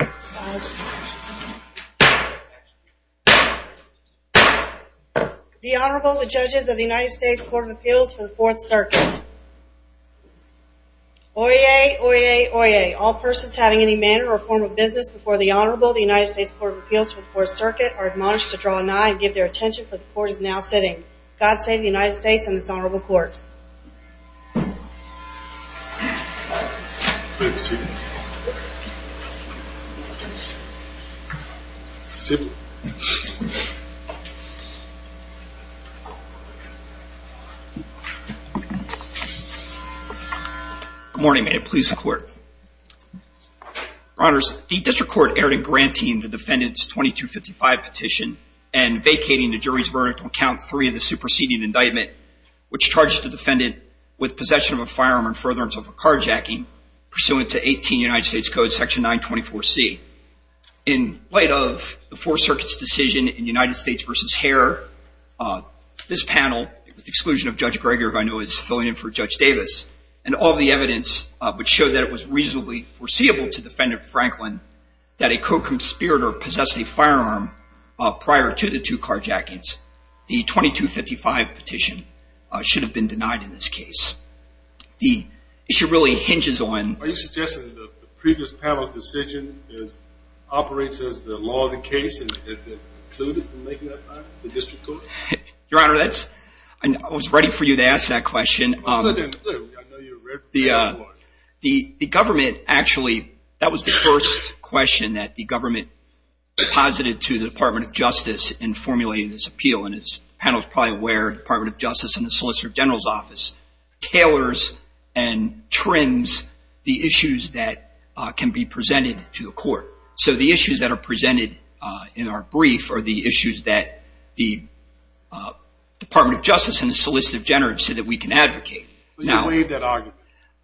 Oyez, Oyez, Oyez. All persons having any manner or form of business before the Honorable of the United States Court of Appeals for the Fourth Circuit are admonished to draw an eye and give their attention, for the Court is now sitting. God save the United States and this Honorable Court. Please be seated. Good morning, may it please the Court. Your Honors, the District Court erred in granting the defendant's 2255 petition and vacating the jury's verdict on count three of the superseding indictment, which charges the defendant with possession of a firearm and furtherance of a carjacking pursuant to 18 United States Code section 924C. In light of the Fourth Circuit's decision in United States v. Harer, this panel, with the exclusion of Judge Gregor, who I know is filling in for Judge Davis, and all the evidence which showed that it was reasonably foreseeable to defendant Franklin that a co-conspirator possessed a firearm prior to the two carjackings, the 2255 petition should have been denied in this case. Are you suggesting that the previous panel's decision operates as the law of the case and has been concluded in the making at that time, the District Court? Your Honor, I was ready for you to ask that question. The government actually, that was the first question that the government posited to the Department of Justice in formulating this appeal, and as the panel is probably aware, the Department of Justice and the Solicitor General's office tailors and trims the issues that can be presented to the Court. So the issues that are presented in our brief are the issues that the Department of Justice and the Solicitor General have said that we can advocate. So you waived that argument?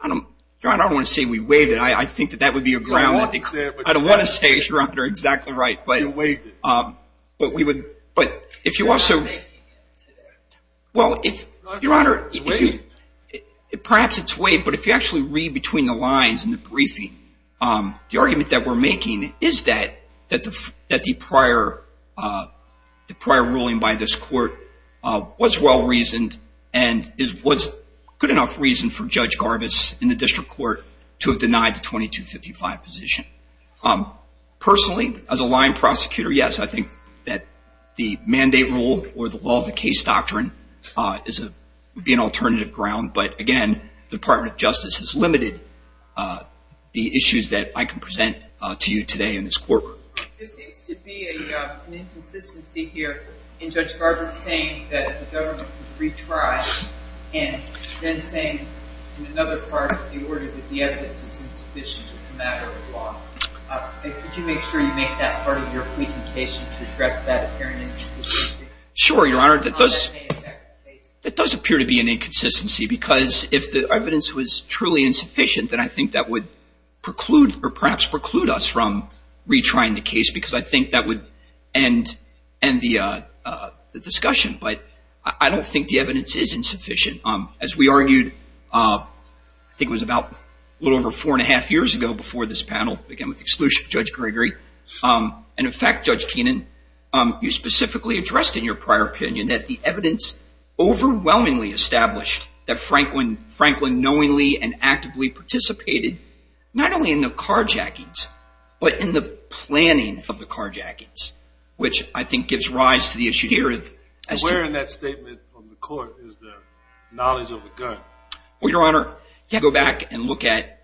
Your Honor, I don't want to say we waived it. I think that would be aggravating. I don't want to say, Your Honor, you're exactly right. You waived it. But if you also, well, Your Honor, perhaps it's waived, but if you actually read between the lines in the briefing, the argument that we're making is that the prior ruling by this Court was well-reasoned and was good enough reason for Judge Garbus in the District Court to have denied the 2255 petition. Personally, as a line prosecutor, yes, I think that the mandate rule or the law of the case doctrine would be an alternative ground, but again, the Department of Justice has limited the issues that I can present to you today in this courtroom. There seems to be an inconsistency here in Judge Garbus saying that the government would retry and then saying in another part of the order that the evidence is insufficient as a matter of law. Could you make sure you make that part of your presentation to address that apparent inconsistency? Sure, Your Honor. That does appear to be an inconsistency because if the evidence was truly insufficient, then I think that would preclude or perhaps preclude us from retrying the case because I think that would end the discussion. But I don't think the evidence is insufficient. As we argued, I think it was about a little over four and a half years ago before this panel began with the exclusion of Judge Gregory, and in fact, Judge Keenan, you specifically addressed in your prior opinion that the evidence overwhelmingly established that Franklin knowingly and actively participated not only in the carjackings, but in the planning of the carjackings, which I think gives rise to the issue here. Where in that statement from the court is the knowledge of the gun? Well, Your Honor, you have to go back and look at...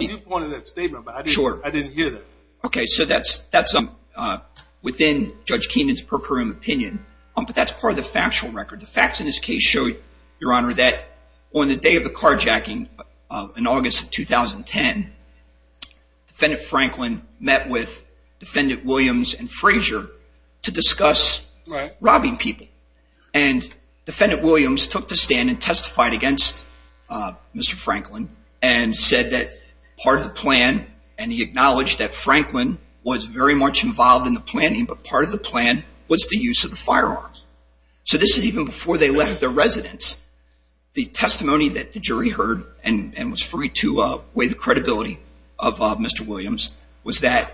You pointed that statement, but I didn't hear that. Okay, so that's within Judge Keenan's per curiam opinion, but that's part of the factual record. The facts in this case show, Your Honor, that on the day of the carjacking in August of 2010, Defendant Franklin met with Defendant Williams and Frazier to discuss robbing people. And Defendant Williams took the stand and testified against Mr. Franklin and said that part of the plan, and he acknowledged that Franklin was very much involved in the planning, but part of the plan was the use of the firearms. So this is even before they left their residence. The testimony that the jury heard and was free to weigh the credibility of Mr. Williams was that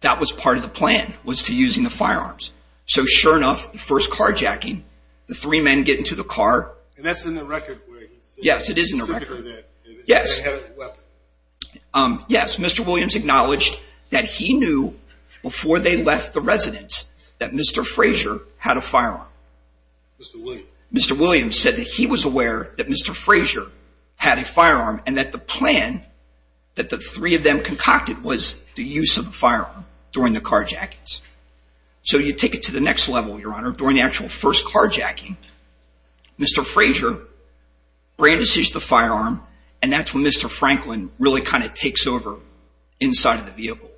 that was part of the plan was to use the firearms. So sure enough, the first carjacking, the three men get into the car... And that's in the record where he said... Yes, it is in the record. ...that they had a weapon. Yes, Mr. Williams acknowledged that he knew before they left the residence that Mr. Frazier had a firearm. Mr. Williams? Mr. Williams said that he was aware that Mr. Frazier had a firearm and that the plan that the three of them concocted was the use of a firearm during the carjackings. So you take it to the next level, Your Honor. During the actual first carjacking, Mr. Frazier brandishes the firearm and that's when Mr. Franklin really kind of takes over inside of the vehicle.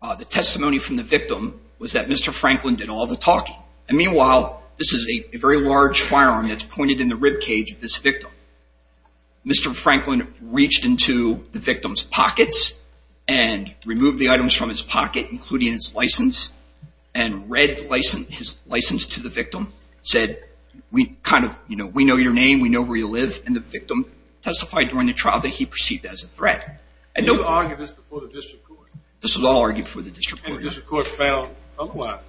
The testimony from the victim was that Mr. Franklin did all the talking. And meanwhile, this is a very large firearm that's pointed in the ribcage of this victim. Mr. Franklin reached into the victim's pockets and removed the items from his pocket, including his license. And read his license to the victim. Said, we know your name, we know where you live. And the victim testified during the trial that he perceived as a threat. You argued this before the district court. This was all argued before the district court. And the district court found otherwise.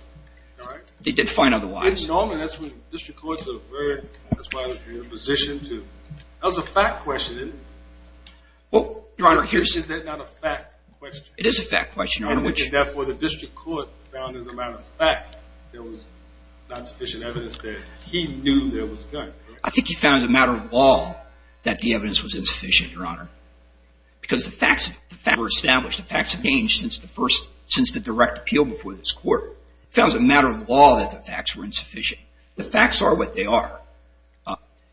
They did find otherwise. Normally, that's when district courts are very, that's why they're in a position to... That was a fact question, isn't it? Your Honor, here's... Is that not a fact question? It is a fact question, Your Honor. And therefore, the district court found as a matter of fact there was not sufficient evidence that he knew there was a gun, correct? I think he found as a matter of law that the evidence was insufficient, Your Honor. Because the facts were established. The facts have changed since the first, since the direct appeal before this court. The district court found as a matter of law that the facts were insufficient. The facts are what they are.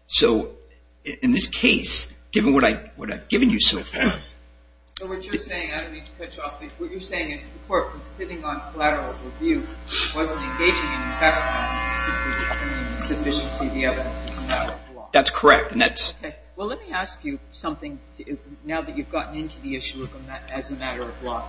So in this case, given what I've given you so far... So what you're saying, I don't mean to cut you off, but what you're saying is the court was sitting on collateral review, but it wasn't engaging in fact finding sufficient evidence as a matter of law. That's correct, and that's... Well, let me ask you something now that you've gotten into the issue as a matter of law.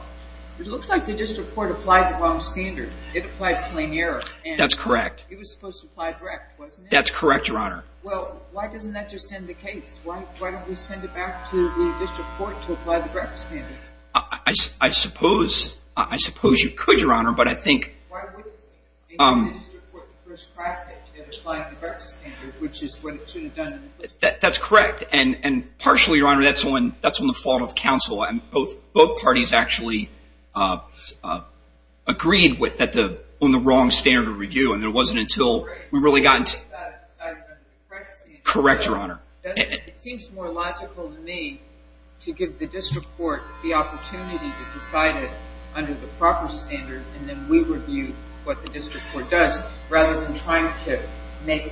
It looks like the district court applied the wrong standard. It applied plain error. That's correct. It was supposed to apply direct, wasn't it? That's correct, Your Honor. Well, why doesn't that just end the case? Why don't we send it back to the district court to apply the direct standard? I suppose you could, Your Honor, but I think... Why wouldn't it? The district court first crafted it applying the direct standard, which is what it should have done in the first place. That's correct, and partially, Your Honor, that's on the fault of counsel. Both parties actually agreed on the wrong standard of review, and it wasn't until we really got into... Correct standard. Correct, Your Honor. It seems more logical to me to give the district court the opportunity to decide it under the proper standard, and then we review what the district court does rather than trying to make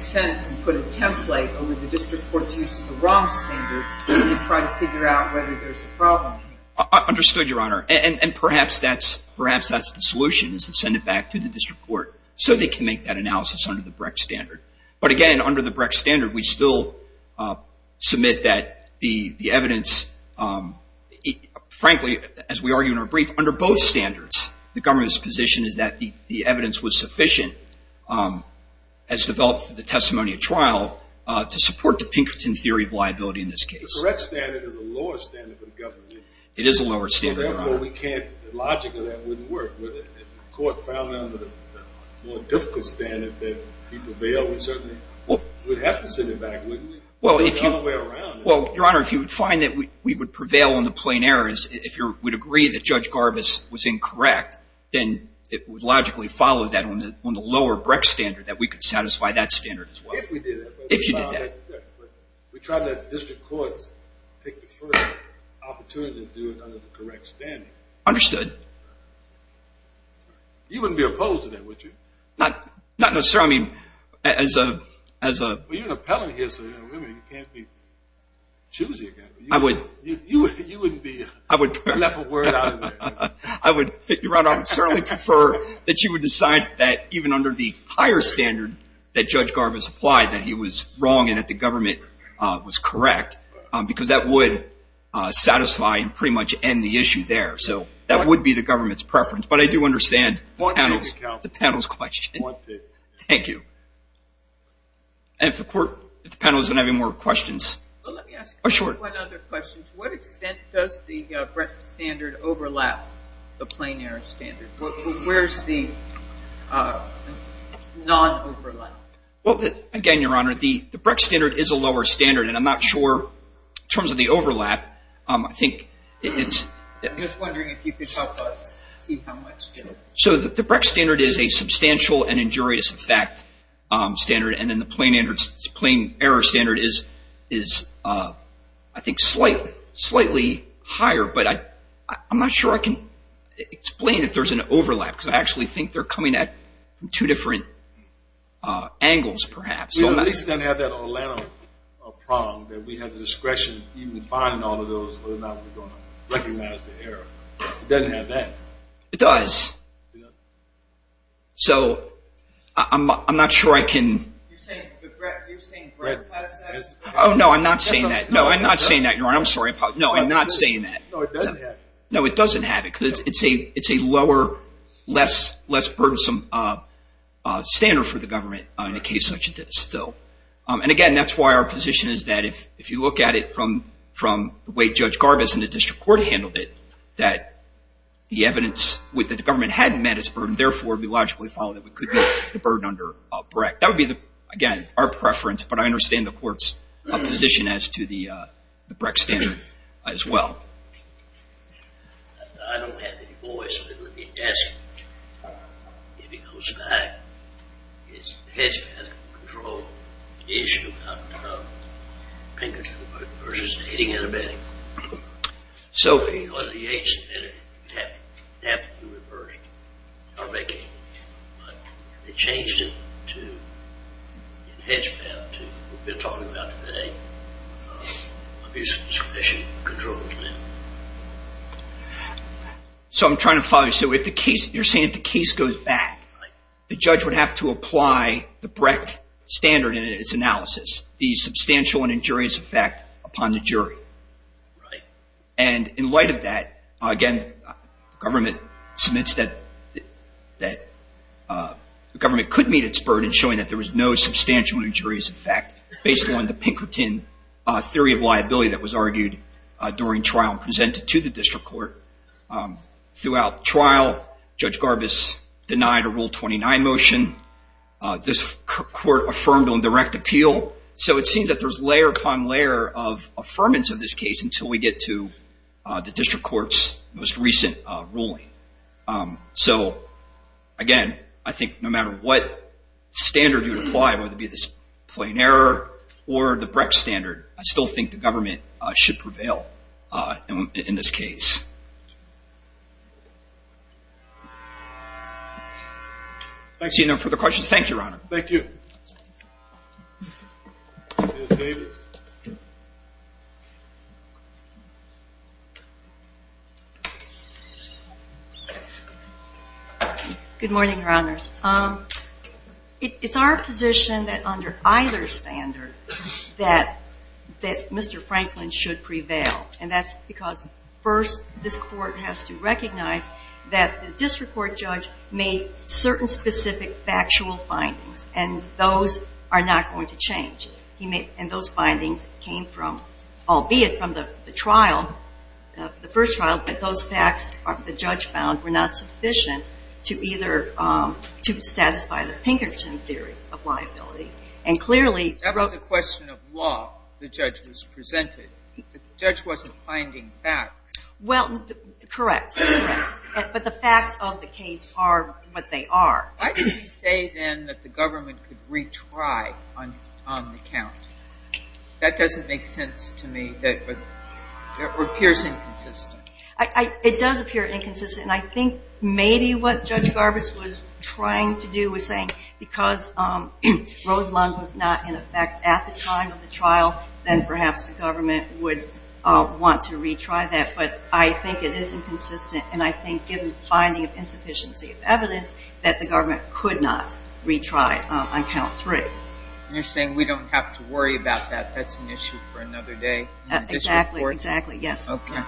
sense and put a template over the district court's use to try to figure out whether there's a problem here. Understood, Your Honor, and perhaps that's the solution, is to send it back to the district court so they can make that analysis under the Brecht standard. But again, under the Brecht standard, we still submit that the evidence... Frankly, as we argue in our brief, under both standards, the government's position is that the evidence was sufficient, as developed for the testimony at trial, to support the Pinkerton theory of liability in this case. The Brecht standard is a lower standard for the government. It is a lower standard, Your Honor. Therefore, logically, that wouldn't work. If the court found that under the more difficult standard that we prevail, we certainly would have to send it back, wouldn't we? Well, if you... There's no other way around it. Well, Your Honor, if you would find that we would prevail on the plain errors, if you would agree that Judge Garbus was incorrect, then it would logically follow that on the lower Brecht standard, that we could satisfy that standard as well. If we did that. If you did that. We tried that at the district courts to take the first opportunity to do it under the correct standard. Understood. You wouldn't be opposed to that, would you? Not necessarily. I mean, as a... Well, you're an appellant here, so you can't be choosy again. I would... You wouldn't be... I would... You left a word out of it. Your Honor, I would certainly prefer that you would decide that even under the higher standard that Judge Garbus applied, that he was wrong and that the government was correct, because that would satisfy and pretty much end the issue there. So that would be the government's preference. But I do understand the panel's question. Wanted. Thank you. And if the panel isn't having more questions... Let me ask one other question. To what extent does the Brecht standard overlap the plain error standard? Where's the non-overlap? Well, again, Your Honor, the Brecht standard is a lower standard, and I'm not sure, in terms of the overlap, I think it's... I'm just wondering if you could help us see how much... So the Brecht standard is a substantial and injurious effect standard, and then the plain error standard is, I think, slightly higher. But I'm not sure I can explain if there's an overlap, because I actually think they're coming at it from two different angles, perhaps. At least it doesn't have that Orlando prong, that we have the discretion even in finding all of those, whether or not we're going to recognize the error. It doesn't have that. It does. So I'm not sure I can... You're saying Brecht has that? Oh, no, I'm not saying that. No, I'm not saying that, Your Honor. I'm sorry. No, I'm not saying that. No, it doesn't have it. No, it doesn't have it, because it's a lower, less burdensome standard for the government in a case such as this. And again, that's why our position is that if you look at it from the way Judge Garvis and the district court handled it, that the evidence that the government had met its burden, therefore we logically follow that we could meet the burden under Brecht. That would be, again, our preference, but I understand the court's position as to the Brecht standard as well. I don't have any voice, but let me ask you. If he goes back, has he had control of the issue about Pinkerton versus the hating and abetting? So, under the hate standard, it had to be reversed. Not making it, but they changed it to an enhanced path to what we've been talking about today. Abuse of discretion controls now. So, I'm trying to follow you. So, you're saying if the case goes back, the judge would have to apply the Brecht standard in its analysis, the substantial and injurious effect upon the jury. And in light of that, again, the government could meet its burden showing that there was no substantial and injurious effect based on the Pinkerton theory of liability that was argued during trial and presented to the district court. Throughout trial, Judge Garvis denied a Rule 29 motion. This court affirmed on direct appeal. So, it seems that there's layer upon layer of affirmance of this case until we get to the district court's most recent ruling. So, again, I think no matter what standard you apply, whether it be this plain error or the Brecht standard, I still think the government should prevail in this case. I see no further questions. Thank you, Your Honor. Thank you. Ms. Davis. Good morning, Your Honors. It's our position that under either standard, that Mr. Franklin should prevail. And that's because, first, this court has to recognize that the district court judge made certain specific factual findings, and those are not going to change. And those findings came from, albeit from the trial, the first trial, but those facts, the judge found, were not sufficient to either satisfy the Pinkerton theory of liability. And clearly, That was a question of law the judge was presented. The judge wasn't finding facts. Well, correct, correct. But the facts of the case are what they are. Why did he say, then, that the government could retry on the count? That doesn't make sense to me. It appears inconsistent. It does appear inconsistent, and I think maybe what Judge Garbus was trying to do was saying because Rosamond was not in effect at the time of the trial, then perhaps the government would want to retry that. But I think it is inconsistent, and I think given the finding of insufficiency of evidence, that the government could not retry on count three. You're saying we don't have to worry about that. That's an issue for another day. Exactly, exactly, yes. Okay.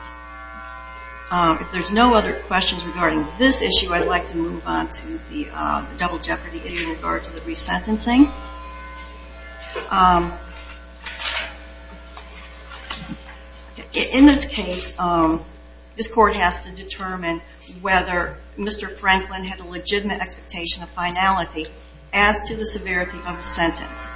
If there's no other questions regarding this issue, I'd like to move on to the double jeopardy in regards to the resentencing. In this case, this court has to determine whether Mr. Franklin had a legitimate expectation of finality as to the severity of the sentence.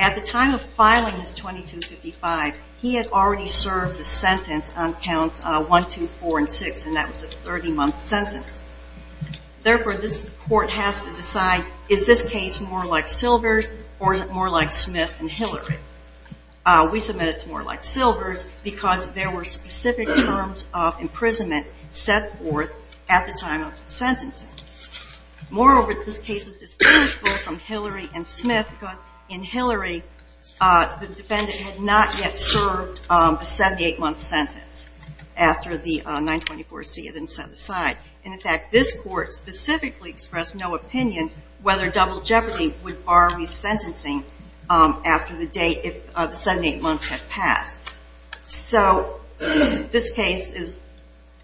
At the time of filing this 2255, he had already served the sentence on counts one, two, four, and six, and that was a 30-month sentence. Therefore, this court has to decide, is this case more like Silver's, or is it more like Smith and Hillary? We submit it's more like Silver's because there were specific terms of imprisonment set forth at the time of the sentencing. Moreover, this case is distinguishable from Hillary and Smith because in Hillary, the defendant had not yet served a 78-month sentence after the 924C had been set aside. In fact, this court specifically expressed no opinion whether double jeopardy would bar resentencing after the 78 months had passed. So this case is,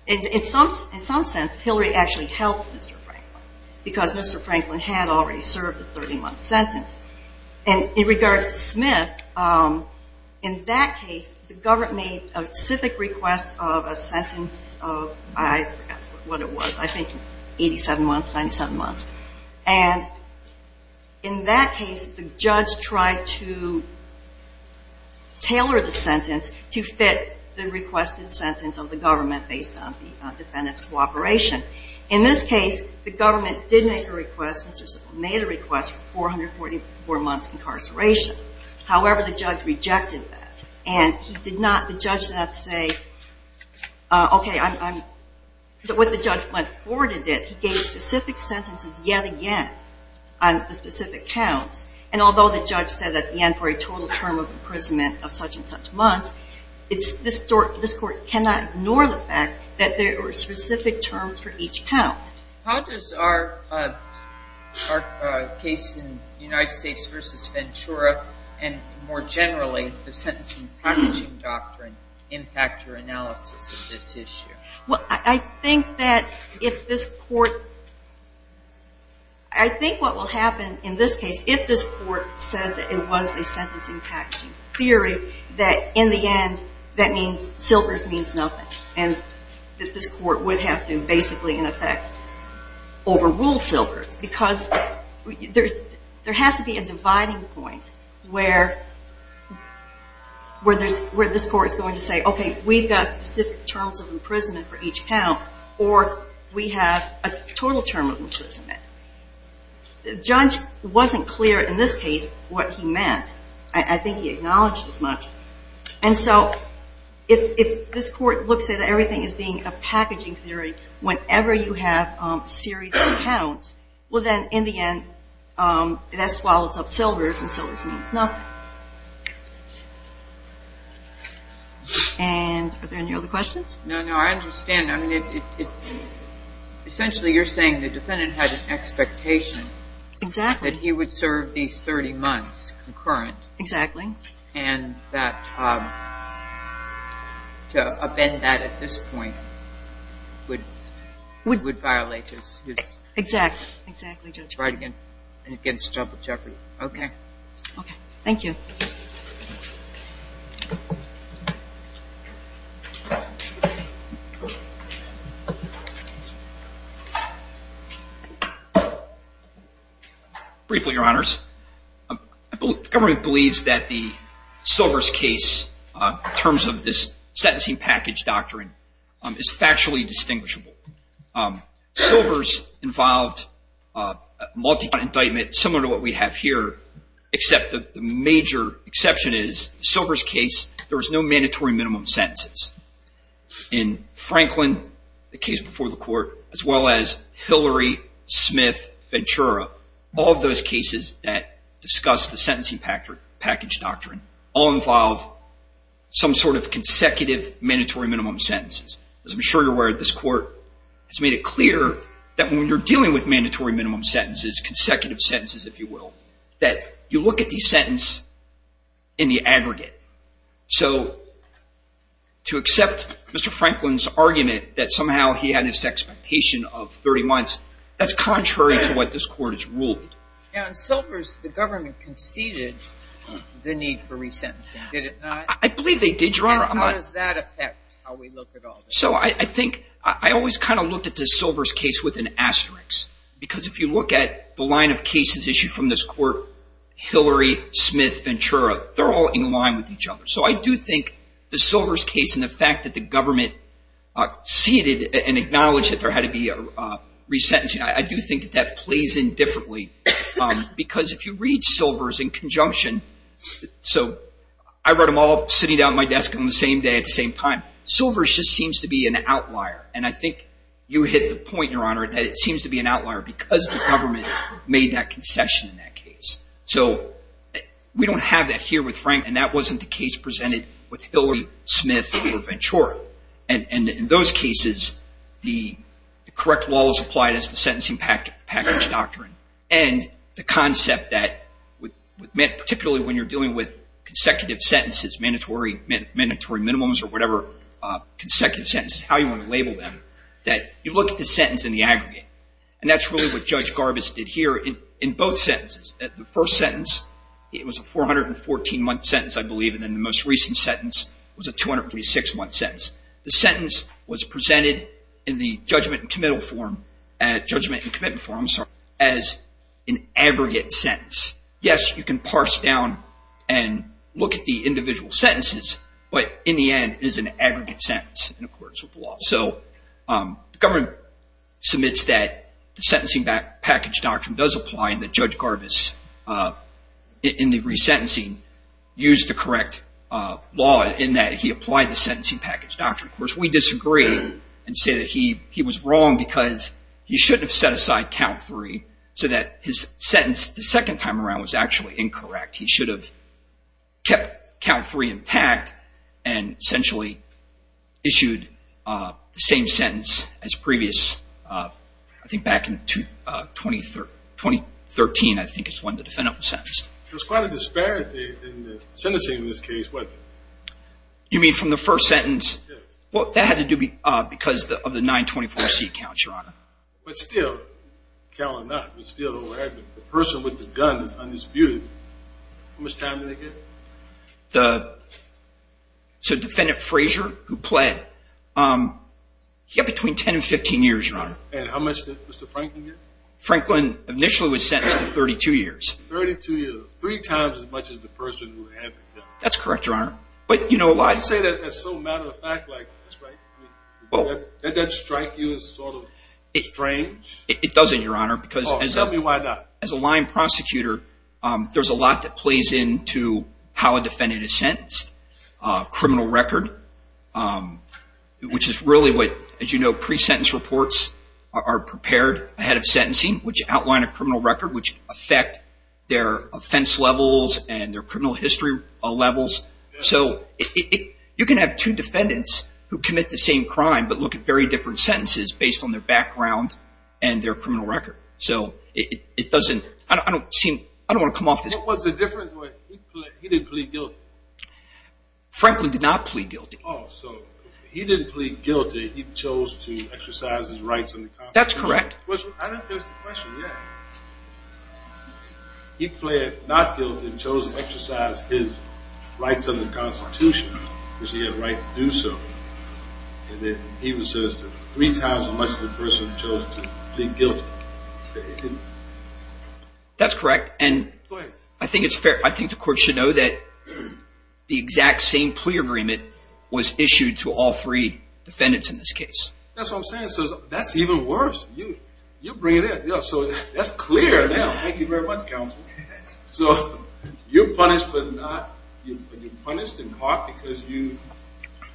in some sense, Hillary actually helped Mr. Franklin because Mr. Franklin had already served the 30-month sentence. In regard to Smith, in that case, the government made a specific request of a sentence of, I forget what it was, I think 87 months, 97 months. And in that case, the judge tried to tailor the sentence to fit the requested sentence of the government based on the defendant's cooperation. In this case, the government did make a request, made a request for 444 months incarceration. However, the judge rejected that. And he did not, the judge did not say, okay, I'm, what the judge went forward and did, he gave specific sentences yet again on the specific counts. And although the judge said at the end for a total term of imprisonment of such and such months, this court cannot ignore the fact that there were specific terms for each count. How does our case in United States v. Ventura and more generally the Sentencing Packaging Doctrine impact your analysis of this issue? Well, I think that if this court, I think what will happen in this case, if this court says that it was a Sentencing Packaging Theory, that in the end, that means, Silvers means nothing. And that this court would have to basically in effect overrule Silvers because there has to be a dividing point where this court is going to say, okay, we've got specific terms of imprisonment for each count or we have a total term of imprisonment. The judge wasn't clear in this case what he meant. I think he acknowledged as much. And so if this court looks at everything as being a Packaging Theory, whenever you have a series of counts, well then, in the end, that swallows up Silvers and Silvers means nothing. And are there any other questions? No, no, I understand. I mean, essentially you're saying the defendant had an expectation that he would serve these 30 months concurrent. Exactly. And that to upend that at this point would violate his... Exactly, exactly, Judge. ...right against Joppa Jeopardy. Okay. Okay, thank you. Briefly, Your Honors. The government believes that the Silvers case, in terms of this Sentencing Package Doctrine, is factually distinguishable. Silvers involved a multi-count indictment, similar to what we have here, except that the major exception is the Silvers case, there was no mandatory minimum sentences. In Franklin, the case before the court, as well as Hillary, Smith, Ventura, all of those cases that discuss the Sentencing Package Doctrine all involve some sort of consecutive mandatory minimum sentences. As I'm sure you're aware, this court has made it clear that when you're dealing with mandatory minimum sentences, consecutive sentences, if you will, that you look at the sentence in the aggregate. So to accept Mr. Franklin's argument that somehow he had this expectation of 30 months, that's contrary to what this court has ruled. In Silvers, the government conceded the need for resentencing. Did it not? I believe they did, Your Honor. How does that affect how we look at all this? So I think I always kind of looked at the Silvers case with an asterisk, because if you look at the line of cases issued from this court, Hillary, Smith, Ventura, they're all in line with each other. So I do think the Silvers case and the fact that the government ceded and acknowledged that there had to be resentencing, I do think that that plays in differently, because if you read Silvers in conjunction, so I wrote them all sitting down at my desk on the same day at the same time. Silvers just seems to be an outlier, and I think you hit the point, Your Honor, that it seems to be an outlier because the government made that concession in that case. So we don't have that here with Franklin. That wasn't the case presented with Hillary, Smith, or Ventura. And in those cases, the correct law is applied as the Sentencing Package Doctrine. And the concept that, particularly when you're dealing with consecutive sentences, mandatory minimums or whatever, consecutive sentences, how you want to label them, that you look at the sentence in the aggregate. And that's really what Judge Garbus did here in both sentences. In the most recent sentence, it was a 236-month sentence. The sentence was presented in the judgment and commitment form as an aggregate sentence. Yes, you can parse down and look at the individual sentences, but in the end, it is an aggregate sentence in accordance with the law. So the government submits that the Sentencing Package Doctrine does apply and that Judge Garbus, in the resentencing, used the correct law in that he applied the Sentencing Package Doctrine. Of course, we disagree and say that he was wrong because he shouldn't have set aside count three so that his sentence the second time around was actually incorrect. He should have kept count three intact and essentially issued the same sentence as previous. I think back in 2013, I think, is when the defendant was sentenced. There's quite a disparity in the sentencing in this case. You mean from the first sentence? Well, that had to do because of the 924C count, Your Honor. But still, count or not, the person with the gun is undisputed. How much time did they get? The defendant, Frazier, who pled, he got between 10 and 15 years, Your Honor. And how much did Mr. Franklin get? Franklin initially was sentenced to 32 years. Thirty-two years, three times as much as the person who had the gun. That's correct, Your Honor. But you know a lot… Why do you say that as so matter-of-fact like this, right? Does that strike you as sort of strange? It doesn't, Your Honor, because… Tell me why not. As a line prosecutor, there's a lot that plays into how a defendant is sentenced. Criminal record, which is really what, as you know, pre-sentence reports are prepared ahead of sentencing, which outline a criminal record, which affect their offense levels and their criminal history levels. So you can have two defendants who commit the same crime but look at very different sentences based on their background and their criminal record. So it doesn't, I don't want to come off as… What's the difference? He didn't plead guilty. Franklin did not plead guilty. Oh, so he didn't plead guilty. He chose to exercise his rights under the Constitution. That's correct. I didn't finish the question yet. He pled not guilty and chose to exercise his rights under the Constitution because he had a right to do so. He was sentenced to three times as much as the person who chose to plead guilty. That's correct. Go ahead. I think it's fair. I think the court should know that the exact same plea agreement was issued to all three defendants in this case. That's what I'm saying. So that's even worse. You bring it in. So that's clear now. Thank you very much, Counsel. So you're punished but not… because you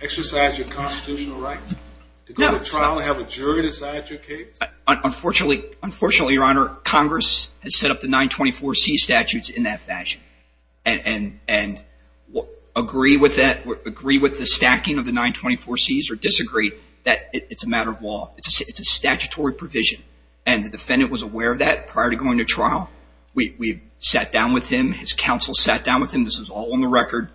exercised your constitutional right to go to trial and have a jury decide your case? Unfortunately, Your Honor, Congress has set up the 924C statutes in that fashion and agree with that, agree with the stacking of the 924Cs or disagree that it's a matter of law. It's a statutory provision. And the defendant was aware of that prior to going to trial. We sat down with him. His counsel sat down with him. This was all on the record.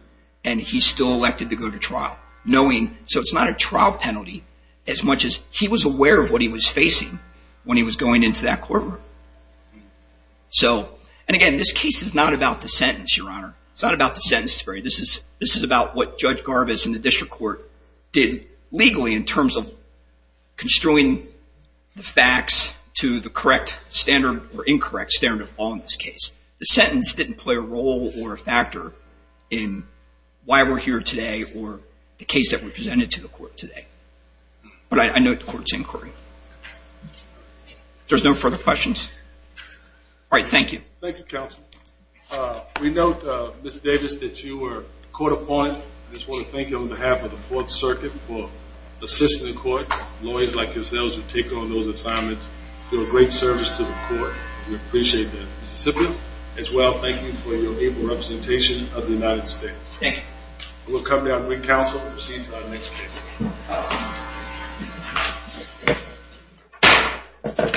And he's still elected to go to trial. So it's not a trial penalty as much as he was aware of what he was facing when he was going into that courtroom. And again, this case is not about the sentence, Your Honor. It's not about the sentence. This is about what Judge Garvis and the district court did legally in terms of construing the facts to the correct standard or incorrect standard of law in this case. The sentence didn't play a role or a factor in why we're here today or the case that we presented to the court today. But I note the court's inquiry. If there's no further questions. All right, thank you. Thank you, counsel. We note, Ms. Davis, that you were caught upon. I just want to thank you on behalf of the Fourth Circuit for assisting the court. Lawyers like yourselves who take on those assignments do a great service to the court. We appreciate that. Mr. Siblin, as well, thank you for your able representation of the United States. Thank you. We'll come to our brief counsel and proceed to our next case.